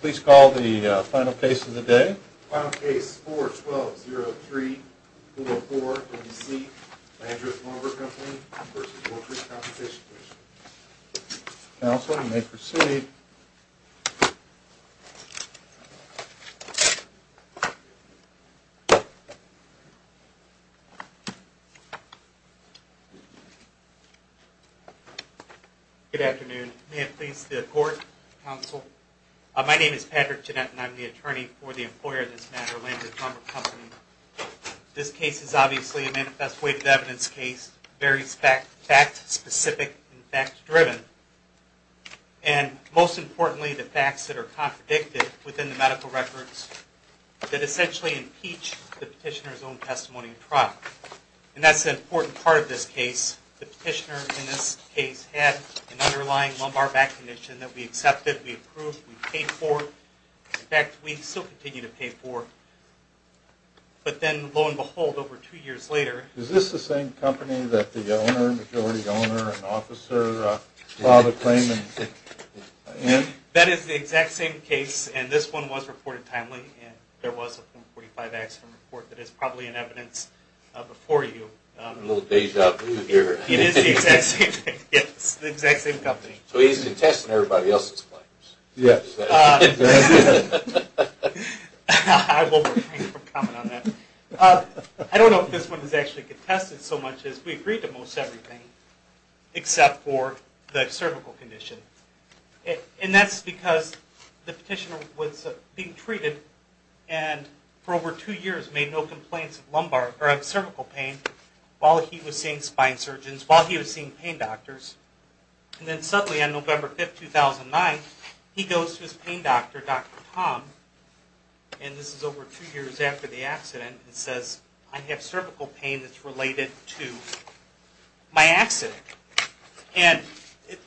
Please call the final case of the day. Final case, 4-12-0-3-204-NBC, Landreth Lumber Co. v. Workers' Compensation Commission. Counsel, you may proceed. Good afternoon. May it please the Court, Counsel. My name is Patrick Jeanette, and I'm the attorney for the employer of this matter, Landreth Lumber Co. This case is obviously a manifest weighted evidence case, very fact-specific and fact-driven. And most importantly, the facts that are contradicted within the medical records that essentially impeach the petitioner's own testimony and trial. And that's an important part of this case. The petitioner in this case had an underlying lumbar back condition that we accepted, we approved, we paid for. In fact, we still continue to pay for. But then, lo and behold, over two years later... That is the exact same case, and this one was reported timely, and there was a form 45 accident report that is probably in evidence before you. A little deja vu here. It is the exact same thing, yes, the exact same company. So he's contesting everybody else's claims. Yes. I will refrain from commenting on that. I don't know if this one is actually contested so much as we agreed to most everything, except for the cervical condition. And that's because the petitioner was being treated and for over two years made no complaints of cervical pain while he was seeing spine surgeons, while he was seeing pain doctors. And then suddenly on November 5, 2009, he goes to his pain doctor, Dr. Tom, and this is over two years after the accident, and says, I have cervical pain that's related to my accident. And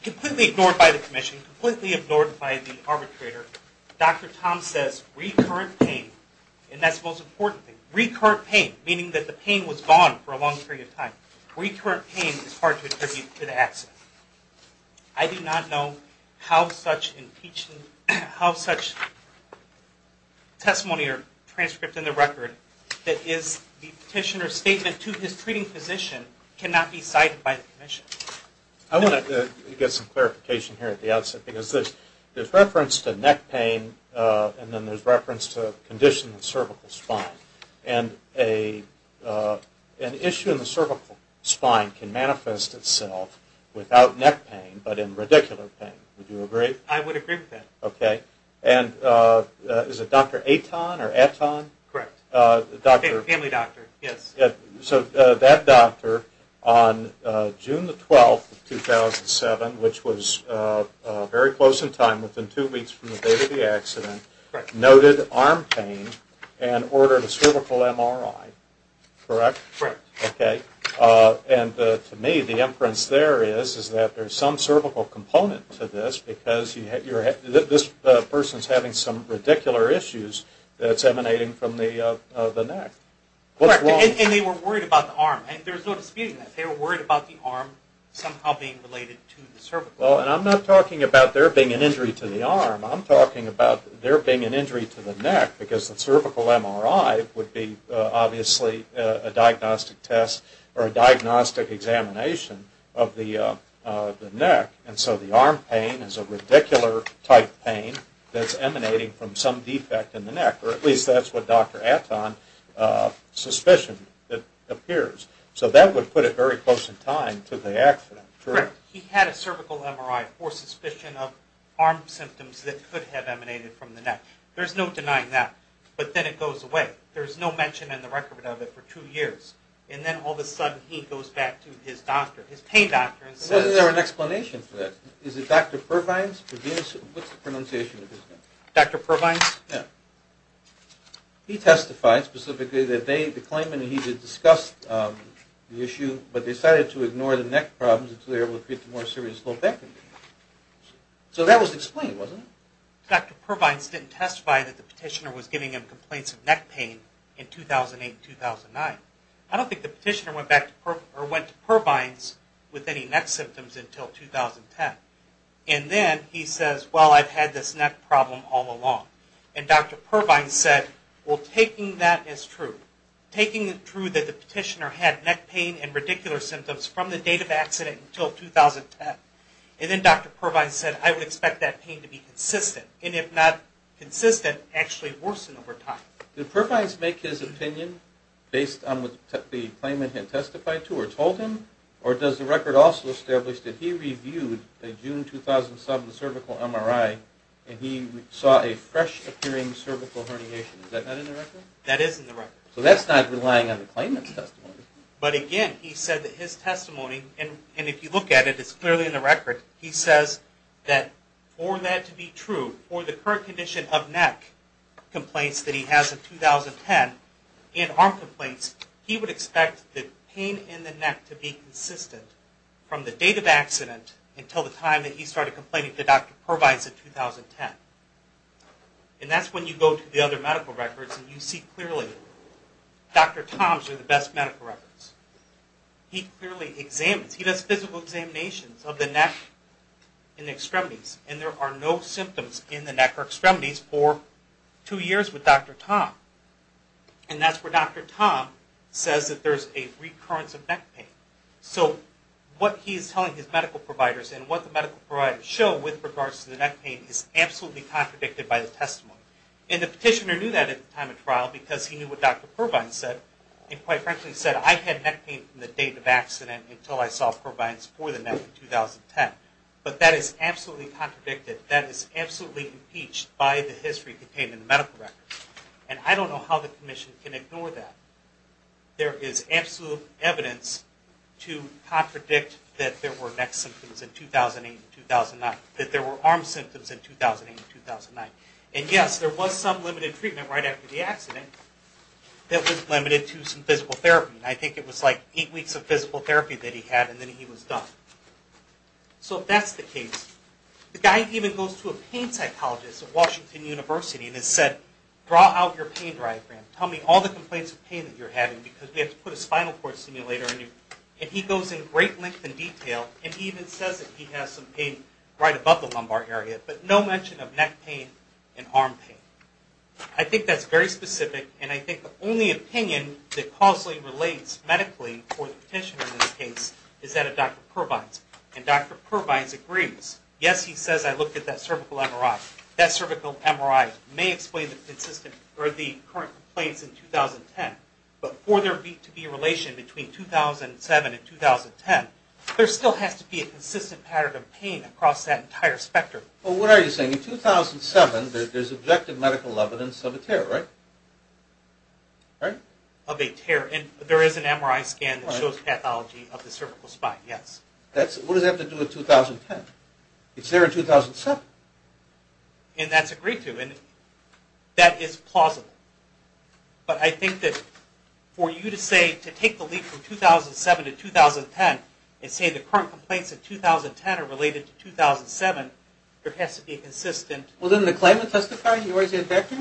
completely ignored by the commission, completely ignored by the arbitrator, Dr. Tom says, recurrent pain, and that's the most important thing, recurrent pain, meaning that the pain was gone for a long period of time. Recurrent pain is hard to attribute to the accident. I do not know how such testimony or transcript in the record that is the petitioner's statement to his treating physician cannot be cited by the commission. I want to get some clarification here at the outset, because there's reference to neck pain and then there's reference to condition in cervical spine. And an issue in the cervical spine can manifest itself without neck pain but in radicular pain. Would you agree? I would agree with that. Okay. And is it Dr. Aton or Aton? Correct. Family doctor, yes. So that doctor on June the 12th of 2007, which was very close in time, within two weeks from the date of the accident, noted arm pain and ordered a cervical MRI, correct? Correct. Okay. And to me, the inference there is that there's some cervical component to this, because this person is having some radicular issues that's emanating from the neck. Correct. And they were worried about the arm. There's no disputing that. They were worried about the arm somehow being related to the cervical. Well, and I'm not talking about there being an injury to the arm. I'm talking about there being an injury to the neck, because the cervical MRI would be obviously a diagnostic test or a diagnostic examination of the neck. And so the arm pain is a radicular-type pain that's emanating from some defect in the neck, or at least that's what Dr. Aton's suspicion appears. So that would put it very close in time to the accident. Correct. He had a cervical MRI for suspicion of arm symptoms that could have emanated from the neck. There's no denying that. But then it goes away. There's no mention in the record of it for two years. And then all of a sudden he goes back to his doctor, his pain doctor, and says... Isn't there an explanation for that? Is it Dr. Purvines? What's the pronunciation of his name? Dr. Purvines? Yeah. He testified specifically that they, the claimant, he did discuss the issue, but they decided to ignore the neck problems until they were able to create the more serious low back injury. So that was explained, wasn't it? Dr. Purvines didn't testify that the petitioner was giving him complaints of neck pain in 2008-2009. I don't think the petitioner went to Purvines with any neck symptoms until 2010. And then he says, well, I've had this neck problem all along. And Dr. Purvines said, well, taking that as true, taking it true that the petitioner had neck pain and radicular symptoms from the date of accident until 2010, and then Dr. Purvines said, I would expect that pain to be consistent, and if not consistent, actually worsen over time. Did Purvines make his opinion based on what the claimant had testified to or told him, or does the record also establish that he reviewed a June 2007 cervical MRI and he saw a fresh appearing cervical herniation? Is that not in the record? That is in the record. So that's not relying on the claimant's testimony. But again, he said that his testimony, and if you look at it, it's clearly in the record, he says that for that to be true, for the current condition of neck complaints that he has in 2010, and arm complaints, he would expect the pain in the neck to be consistent from the date of accident until the time that he started complaining to Dr. Purvines in 2010. And that's when you go to the other medical records and you see clearly, Dr. Tom's are the best medical records. He clearly examines, he does physical examinations of the neck and extremities, and there are no symptoms in the neck or extremities for two years with Dr. Tom. And that's where Dr. Tom says that there's a recurrence of neck pain. So what he's telling his medical providers and what the medical providers show with regards to the neck pain is absolutely contradicted by the testimony. And the petitioner knew that at the time of trial because he knew what Dr. Purvines said, and quite frankly said, I had neck pain from the date of accident until I saw Purvines for the neck in 2010. But that is absolutely contradicted. That is absolutely impeached by the history contained in the medical records. And I don't know how the commission can ignore that. There is absolute evidence to contradict that there were neck symptoms in 2008 and 2009, that there were arm symptoms in 2008 and 2009. And yes, there was some limited treatment right after the accident that was limited to some physical therapy. And I think it was like eight weeks of physical therapy that he had, and then he was done. So if that's the case, the guy even goes to a pain psychologist at Washington University and has said, draw out your pain diagram. Tell me all the complaints of pain that you're having because we have to put a spinal cord stimulator in you. And he goes in great length and detail, and he even says that he has some pain right above the lumbar area, but no mention of neck pain and arm pain. I think that's very specific, and I think the only opinion that causally relates medically for the petitioner in this case is that of Dr. Purvines. And Dr. Purvines agrees. Yes, he says I looked at that cervical MRI. That cervical MRI may explain the current complaints in 2010, but for there to be a relation between 2007 and 2010, there still has to be a consistent pattern of pain across that entire spectrum. Well, what are you saying? In 2007, there's objective medical evidence of a tear, right? Of a tear, and there is an MRI scan that shows pathology of the cervical spine, yes. What does that have to do with 2010? It's there in 2007. And that's agreed to, and that is plausible. But I think that for you to say, to take the leap from 2007 to 2010 and say the current complaints of 2010 are related to 2007, there has to be a consistent... Well, didn't the claimant testify? He was a doctor?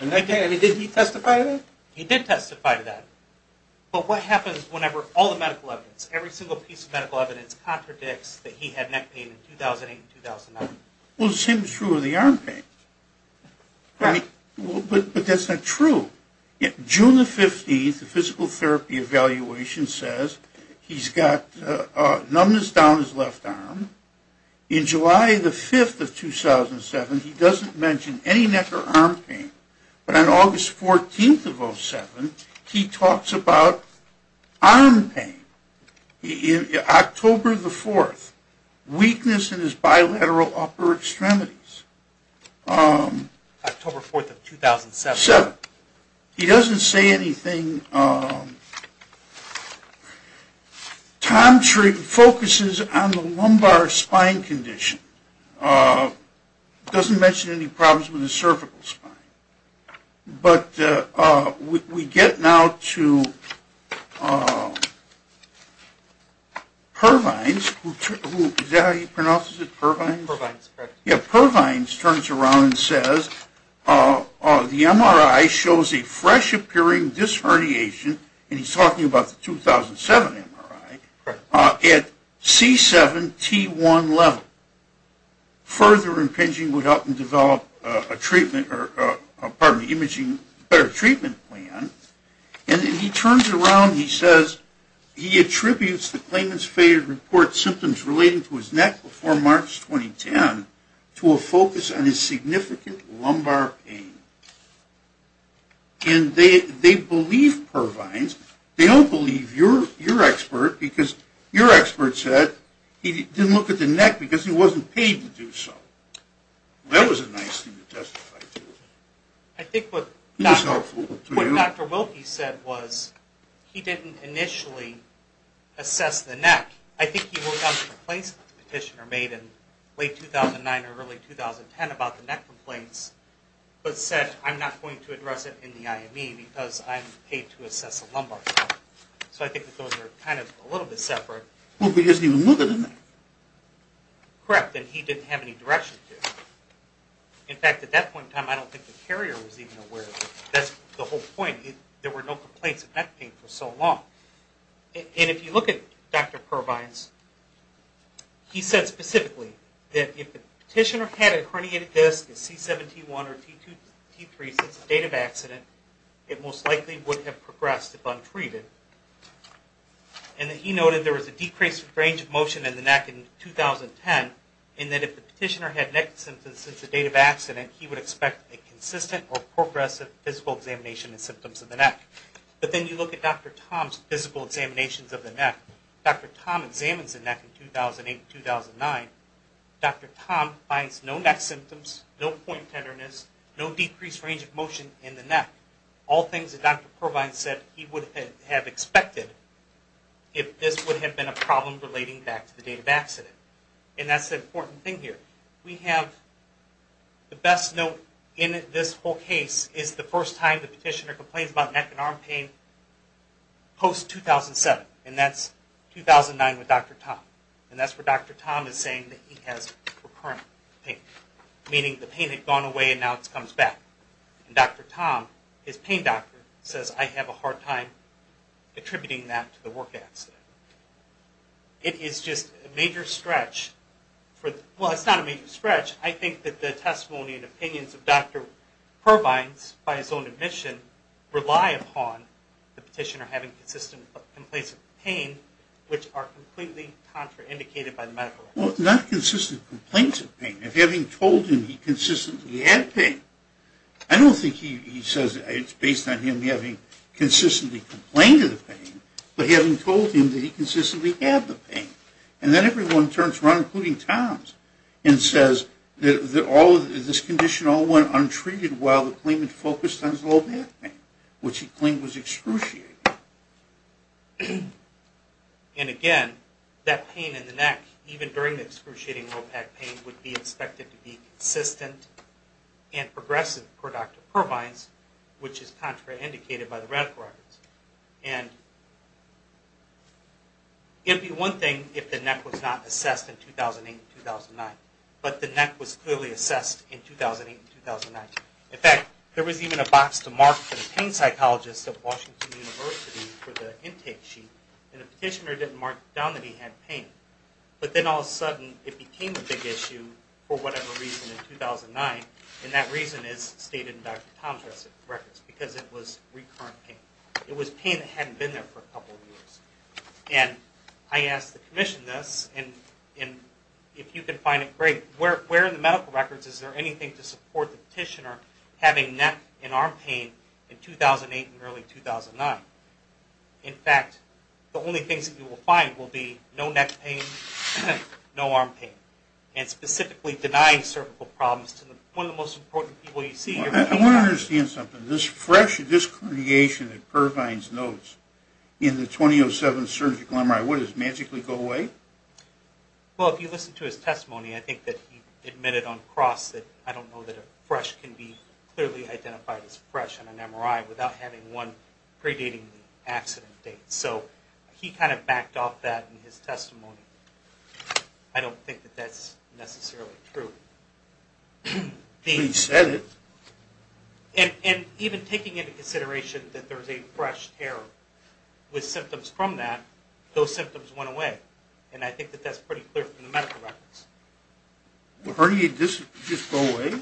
I mean, did he testify to that? He did testify to that. But what happens whenever all the medical evidence, every single piece of medical evidence contradicts that he had neck pain in 2008 and 2009? Well, it seems true of the arm pain. Right. But that's not true. June the 15th, the physical therapy evaluation says he's got numbness down his left arm. In July the 5th of 2007, he doesn't mention any neck or arm pain. But on August 14th of 2007, he talks about arm pain. October the 4th, weakness in his bilateral upper extremities. October 4th of 2007. He doesn't say anything. Tom focuses on the lumbar spine condition. He doesn't mention any problems with his cervical spine. But we get now to Pervines. Is that how you pronounce it, Pervines? Pervines, correct. Yeah, Pervines turns around and says, the MRI shows a fresh appearing disherniation, and he's talking about the 2007 MRI, at C7T1 level. Further impinging would help him develop a treatment or, pardon me, imaging better treatment plan. And he turns around and he says he attributes the claimant's failure to report symptoms relating to his neck before March 2010 to a focus on his significant lumbar pain. And they believe, Pervines, they don't believe your expert because your expert said he didn't look at the neck because he wasn't paid to do so. That was a nice thing to testify to. I think what Dr. Wilkie said was he didn't initially assess the neck. I think he wrote down the complaints that the petitioner made in late 2009 or early 2010 about the neck complaints but said, I'm not going to address it in the IME because I'm paid to assess the lumbar spine. So I think that those are kind of a little bit separate. Well, but he doesn't even look at the neck. Correct, and he didn't have any direction to. In fact, at that point in time, I don't think the carrier was even aware of it. That's the whole point. There were no complaints of neck pain for so long. And if you look at Dr. Pervines, he said specifically that if the petitioner had a herniated disc at C7T1 or T3 since the date of accident, it most likely would have progressed if untreated. And that he noted there was a decreased range of motion in the neck in 2010 and that if the petitioner had neck symptoms since the date of accident, he would expect a consistent or progressive physical examination of symptoms of the neck. But then you look at Dr. Tom's physical examinations of the neck. Dr. Tom examines the neck in 2008-2009. Dr. Tom finds no neck symptoms, no point tenderness, no decreased range of motion in the neck. All things that Dr. Pervines said he would have expected if this would have been a problem relating back to the date of accident. And that's the important thing here. We have the best note in this whole case is the first time the petitioner complains about neck and arm pain post-2007. And that's 2009 with Dr. Tom. And that's where Dr. Tom is saying that he has recurrent pain, meaning the pain had gone away and now it comes back. And Dr. Tom, his pain doctor, says, I have a hard time attributing that to the work accident. It is just a major stretch. Well, it's not a major stretch. I think that the testimony and opinions of Dr. Pervines by his own admission rely upon the petitioner having consistent complaints of pain, which are completely contraindicated by the medical records. Well, not consistent complaints of pain, but having told him he consistently had pain. I don't think he says it's based on him having consistently complained of the pain, but having told him that he consistently had the pain. And then everyone turns around, including Tom, and says that this condition all went untreated while the claimant focused on his low back pain, which he claimed was excruciating. And again, that pain in the neck, even during the excruciating low back pain, would be expected to be consistent and progressive for Dr. Pervines, which is contraindicated by the medical records. And it would be one thing if the neck was not assessed in 2008 and 2009, but the neck was clearly assessed in 2008 and 2009. In fact, there was even a box to mark for the pain psychologist at Washington University for the intake sheet, and the petitioner didn't mark down that he had pain. But then all of a sudden, it became a big issue for whatever reason in 2009, and that reason is stated in Dr. Tom's records, because it was recurrent pain. It was pain that hadn't been there for a couple of years. And I asked the commission this, and if you can find it, great. But where in the medical records is there anything to support the petitioner having neck and arm pain in 2008 and early 2009? In fact, the only things that you will find will be no neck pain, no arm pain, and specifically denying cervical problems to one of the most important people you see here. I want to understand something. This fresh discrimination that Pervines notes in the 2007 surgical MRI, what, does it magically go away? Well, if you listen to his testimony, I think that he admitted on cross that, I don't know that a fresh can be clearly identified as fresh in an MRI without having one predating the accident date. So he kind of backed off that in his testimony. I don't think that that's necessarily true. He said it. And even taking into consideration that there's a fresh tear with symptoms from that, those symptoms went away. And I think that that's pretty clear from the medical records. Do herniated discs just go away?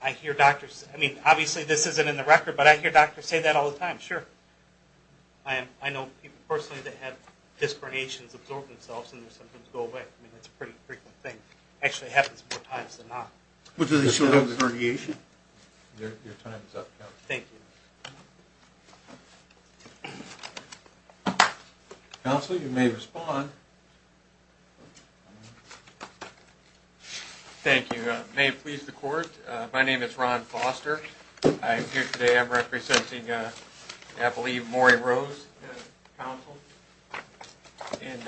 I hear doctors say that. I mean, obviously this isn't in the record, but I hear doctors say that all the time, sure. I know people personally that have disc herniations absorb themselves, and their symptoms go away. I mean, that's a pretty frequent thing. It actually happens more times than not. Well, do they still have the herniation? Your time is up, Counsel. Thank you. Counsel, you may respond. Thank you. May it please the Court, my name is Ron Foster. I'm here today, I'm representing, I believe, Maury Rose, Counsel. And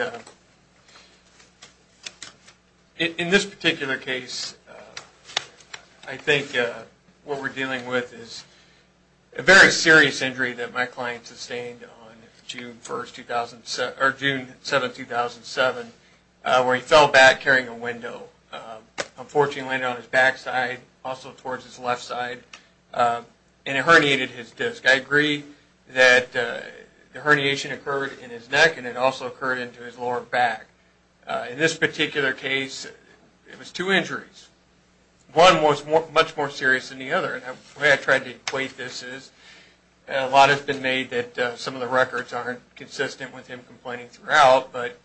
in this particular case, I think what we're dealing with is a very serious injury that my client sustained on June 1st, 2007, or June 7th, 2007, where he fell back carrying a window. Unfortunately, it landed on his backside, also towards his left side, and it herniated his disc. I agree that the herniation occurred in his neck, and it also occurred into his lower back. In this particular case, it was two injuries. One was much more serious than the other. And the way I tried to equate this is a lot has been made that some of the records aren't consistent with him complaining throughout, but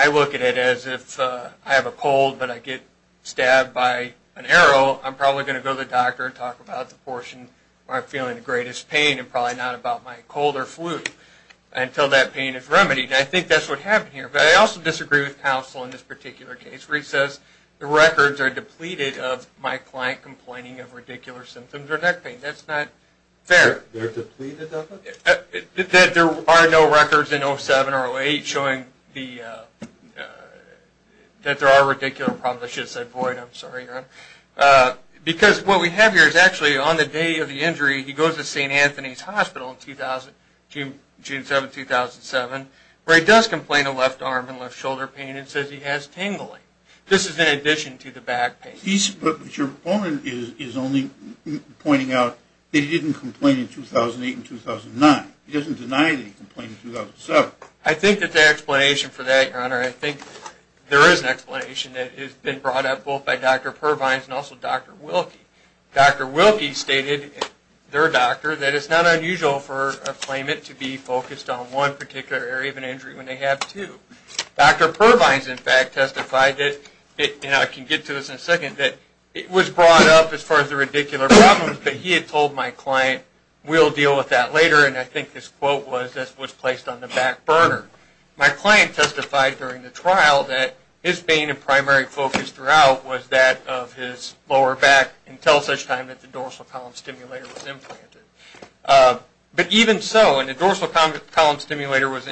I look at it as if I have a cold, but I get stabbed by an arrow. I'm probably going to go to the doctor and talk about the portion where I'm feeling the greatest pain, and probably not about my cold or flu, until that pain is remedied. And I think that's what happened here. But I also disagree with Counsel in this particular case, where he says the records are depleted of my client complaining of ridiculous symptoms or neck pain. That's not fair. They're depleted of it? That there are no records in 07 or 08 showing that there are ridiculous problems. I should have said void. I'm sorry, Your Honor. Because what we have here is actually on the day of the injury, he goes to St. Anthony's Hospital in June 7, 2007, where he does complain of left arm and left shoulder pain and says he has tingling. This is in addition to the back pain. But your opponent is only pointing out that he didn't complain in 2008 and 2009. He doesn't deny that he complained in 2007. I think that the explanation for that, Your Honor, I think there is an explanation that has been brought up both by Dr. Pervines and also Dr. Wilke. Dr. Wilke stated, their doctor, that it's not unusual for a claimant to be focused on one particular area of an injury when they have two. Dr. Pervines, in fact, testified that, and I can get to this in a second, that it was brought up as far as the ridiculous problems, but he had told my client, we'll deal with that later, and I think this quote was placed on the back burner. My client testified during the trial that his main and primary focus throughout was that of his lower back until such time that the dorsal column stimulator was implanted. But even so, when the dorsal column stimulator was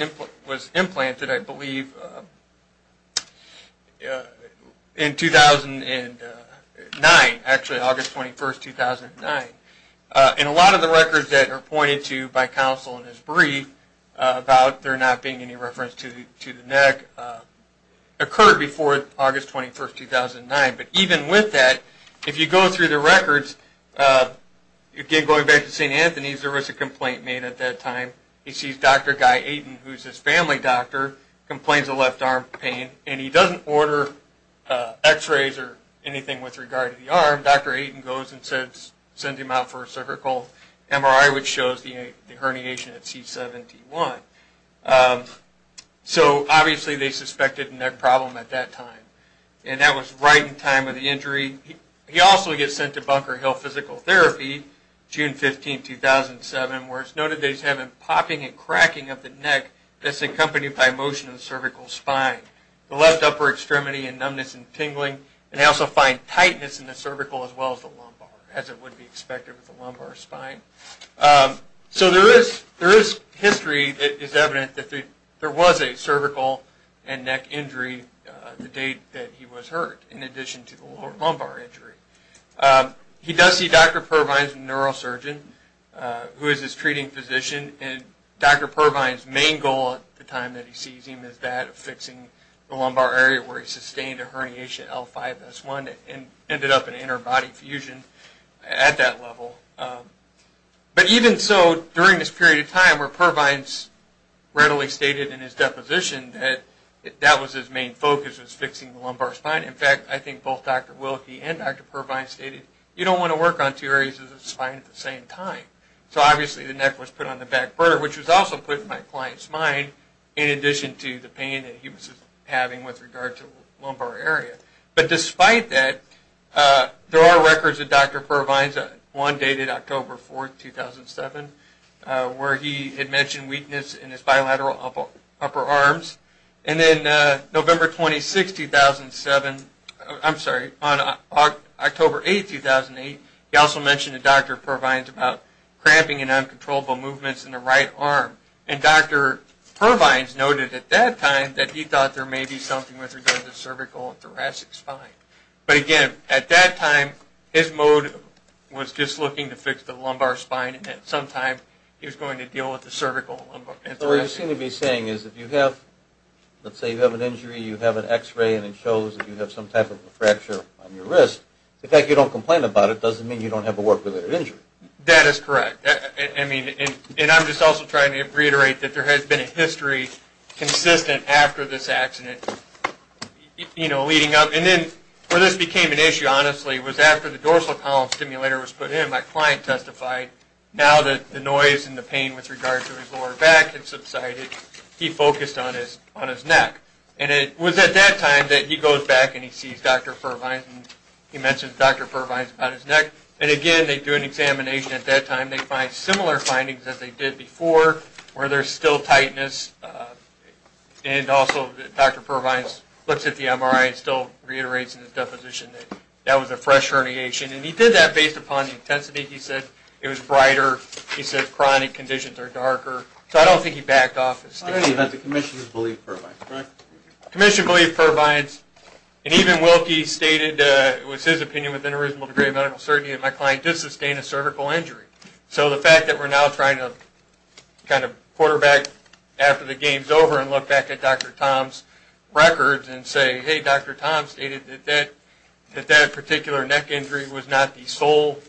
implanted, I believe, in 2009, actually August 21, 2009, in a lot of the records that are pointed to by counsel in his brief about there not being any reference to the neck, occurred before August 21, 2009. But even with that, if you go through the records, again going back to St. Anthony's, there was a complaint made at that time. He sees Dr. Guy Aden, who is his family doctor, complains of left arm pain, and he doesn't order x-rays or anything with regard to the arm. Dr. Aden goes and sends him out for a cervical MRI, which shows the herniation at C7T1. So obviously they suspected a neck problem at that time, and that was right in time of the injury. He also gets sent to Bunker Hill Physical Therapy, June 15, 2007, where it's noted that he's having popping and cracking of the neck that's accompanied by motion of the cervical spine. The left upper extremity and numbness and tingling, and they also find tightness in the cervical as well as the lumbar, as it would be expected with a lumbar spine. So there is history that is evident that there was a cervical and neck injury the date that he was hurt, in addition to the lower lumbar injury. He does see Dr. Purvine's neurosurgeon, who is his treating physician, and Dr. Purvine's main goal at the time that he sees him is that of fixing the lumbar area where he sustained a herniation, L5-S1, and ended up in interbody fusion at that level. But even so, during this period of time where Purvine's readily stated in his deposition that that was his main focus, was fixing the lumbar spine. In fact, I think both Dr. Willke and Dr. Purvine stated, you don't want to work on two areas of the spine at the same time. So obviously the neck was put on the back burner, which was also put in my client's mind, in addition to the pain that he was having with regard to the lumbar area. But despite that, there are records that Dr. Purvine's, one dated October 4, 2007, where he had mentioned weakness in his bilateral upper arms. And then November 26, 2007, I'm sorry, on October 8, 2008, he also mentioned to Dr. Purvine's about cramping and uncontrollable movements in the right arm. And Dr. Purvine's noted at that time that he thought there may be something with regard to the cervical and thoracic spine. But again, at that time, his mode was just looking to fix the lumbar spine and at some time he was going to deal with the cervical and thoracic. So what you seem to be saying is if you have, let's say you have an injury, you have an x-ray and it shows that you have some type of a fracture on your wrist, the fact that you don't complain about it doesn't mean you don't have a work-related injury. That is correct. And I'm just also trying to reiterate that there has been a history, consistent after this accident, you know, leading up. And then where this became an issue, honestly, was after the dorsal column stimulator was put in. My client testified now that the noise and the pain with regard to his lower back had subsided, he focused on his neck. And it was at that time that he goes back and he sees Dr. Fervines and he mentions Dr. Fervines about his neck. And again, they do an examination at that time. They find similar findings as they did before where there's still tightness and also Dr. Fervines looks at the MRI and still reiterates in his deposition that that was a fresh herniation. And he did that based upon the intensity. He said it was brighter. He said chronic conditions are darker. So I don't think he backed off his statement. I believe that the commission believed Fervines, correct? The commission believed Fervines. And even Wilkie stated it was his opinion within a reasonable degree of medical certainty that my client did sustain a cervical injury. So the fact that we're now trying to kind of quarterback after the game's over and look back at Dr. Tom's records and say, hey, Dr. Tom stated that that particular neck injury was not the sole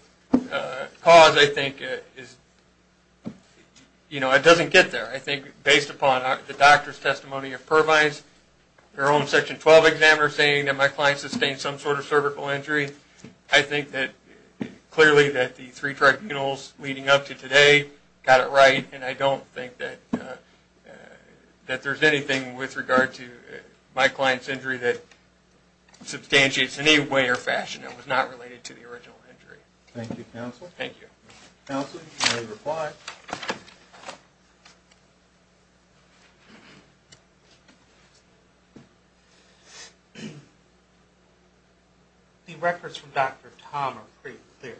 cause, I think, is, you know, it doesn't get there. I think based upon the doctor's testimony of Fervines, their own Section 12 examiner saying that my client sustained some sort of cervical injury, I think that clearly that the three tribunals leading up to today got it right and I don't think that there's anything with regard to my client's injury that substantiates in any way or fashion it was not related to the original injury. Thank you, counsel. Thank you. Counsel, you may reply. The records from Dr. Tom are pretty clear.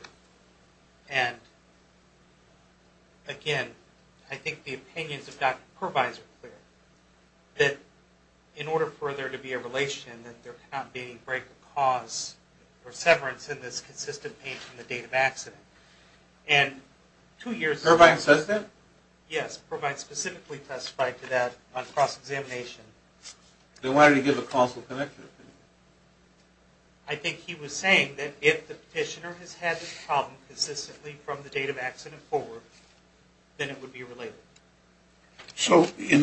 And, again, I think the opinions of Dr. Fervines are clear, that in order for there to be a relation, that there cannot be any break or cause or severance in this consistent pain from the date of accident. And two years ago... Fervines says that? Yes, Fervines specifically testified to that on cross-examination. They wanted to give a causal connection. I think he was saying that if the petitioner has had this problem consistently from the date of accident forward, then it would be related. So in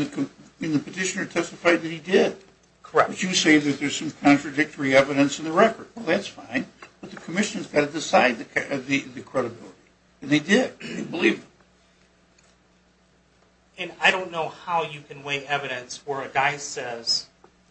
the petitioner testified that he did. Correct. But you say that there's some contradictory evidence in the record. Well, that's fine. But the commission has got to decide the credibility. And they did. They believed it. And I don't know how you can weigh evidence where a guy says,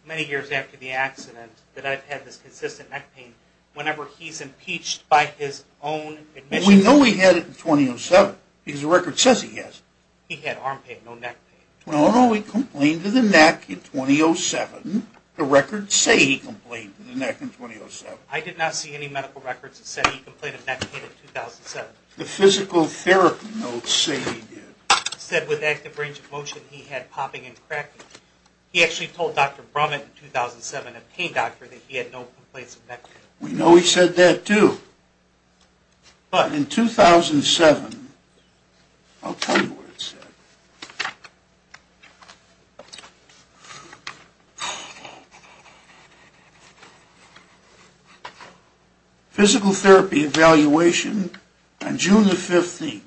many years after the accident, that I've had this consistent neck pain, whenever he's impeached by his own admission. Well, we know he had it in 2007 because the record says he has. He had arm pain, no neck pain. Well, no, he complained of the neck in 2007. The records say he complained of the neck in 2007. I did not see any medical records that said he complained of neck pain in 2007. The physical therapy notes say he did. It said with active range of motion he had popping and cracking. He actually told Dr. Brummett in 2007, a pain doctor, that he had no complaints of neck pain. We know he said that too. But in 2007, I'll tell you what it said. Physical therapy evaluation on June the 15th.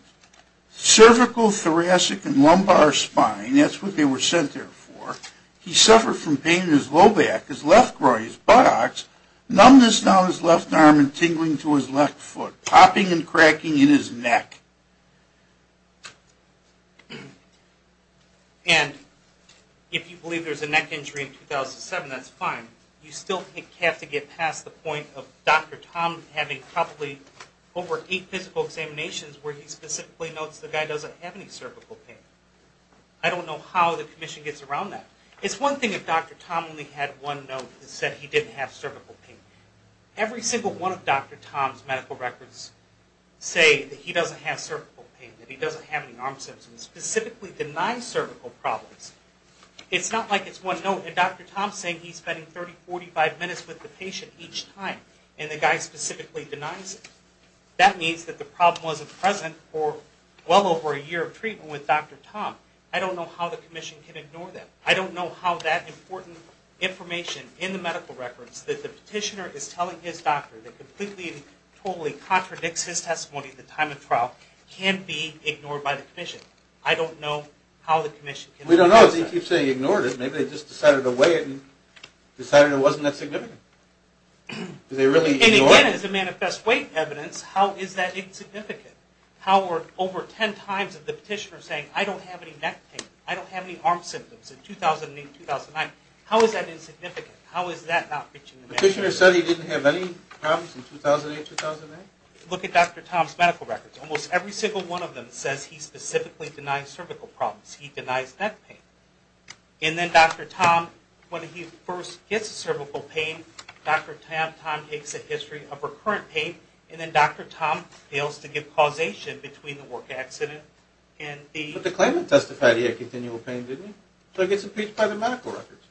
Cervical, thoracic, and lumbar spine, that's what they were sent there for. He suffered from pain in his low back, his left groin, his buttocks, numbness down his left arm and tingling to his left foot, popping and cracking in his neck. And if you believe there's a neck injury in 2007, that's fine. You still have to get past the point of Dr. Tom having probably over eight physical examinations where he specifically notes the guy doesn't have any cervical pain. I don't know how the commission gets around that. It's one thing if Dr. Tom only had one note that said he didn't have cervical pain. Every single one of Dr. Tom's medical records say that he doesn't have cervical pain, that he doesn't have any arm symptoms, specifically denies cervical problems. It's not like it's one note. And Dr. Tom's saying he's spending 30, 45 minutes with the patient each time, and the guy specifically denies it. That means that the problem wasn't present for well over a year of treatment with Dr. Tom. I don't know how the commission can ignore that. I don't know how that important information in the medical records that the petitioner is telling his doctor that completely and totally contradicts his testimony at the time of trial can be ignored by the commission. I don't know how the commission can ignore that. We don't know. If he keeps saying he ignored it, maybe they just decided to weigh it and decided it wasn't that significant. Did they really ignore it? And again, as a manifest weight evidence, how is that insignificant? How are over ten times of the petitioner saying, I don't have any neck pain. I don't have any arm symptoms in 2008-2009. How is that insignificant? How is that not reaching the medical records? Petitioner said he didn't have any problems in 2008-2009? Look at Dr. Tom's medical records. Almost every single one of them says he specifically denies cervical problems. He denies neck pain. And then Dr. Tom, when he first gets cervical pain, Dr. Tom takes a history of recurrent pain, and then Dr. Tom fails to give causation between the work accident and the... But the claimant testified he had continual pain, didn't he? So he gets impeached by the medical records.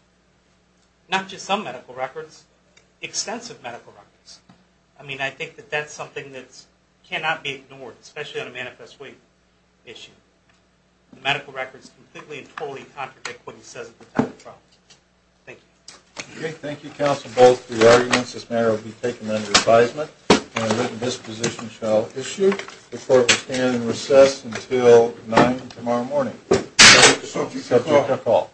Not just some medical records. Extensive medical records. I mean, I think that that's something that cannot be ignored, especially on a manifest weight issue. The medical records completely and totally contradict what he says about the problem. Thank you. Okay. Thank you, Counsel Bolt, for your arguments. This matter will be taken under advisement, and a written disposition shall issue. The court will stand in recess until 9 tomorrow morning. Subject to call.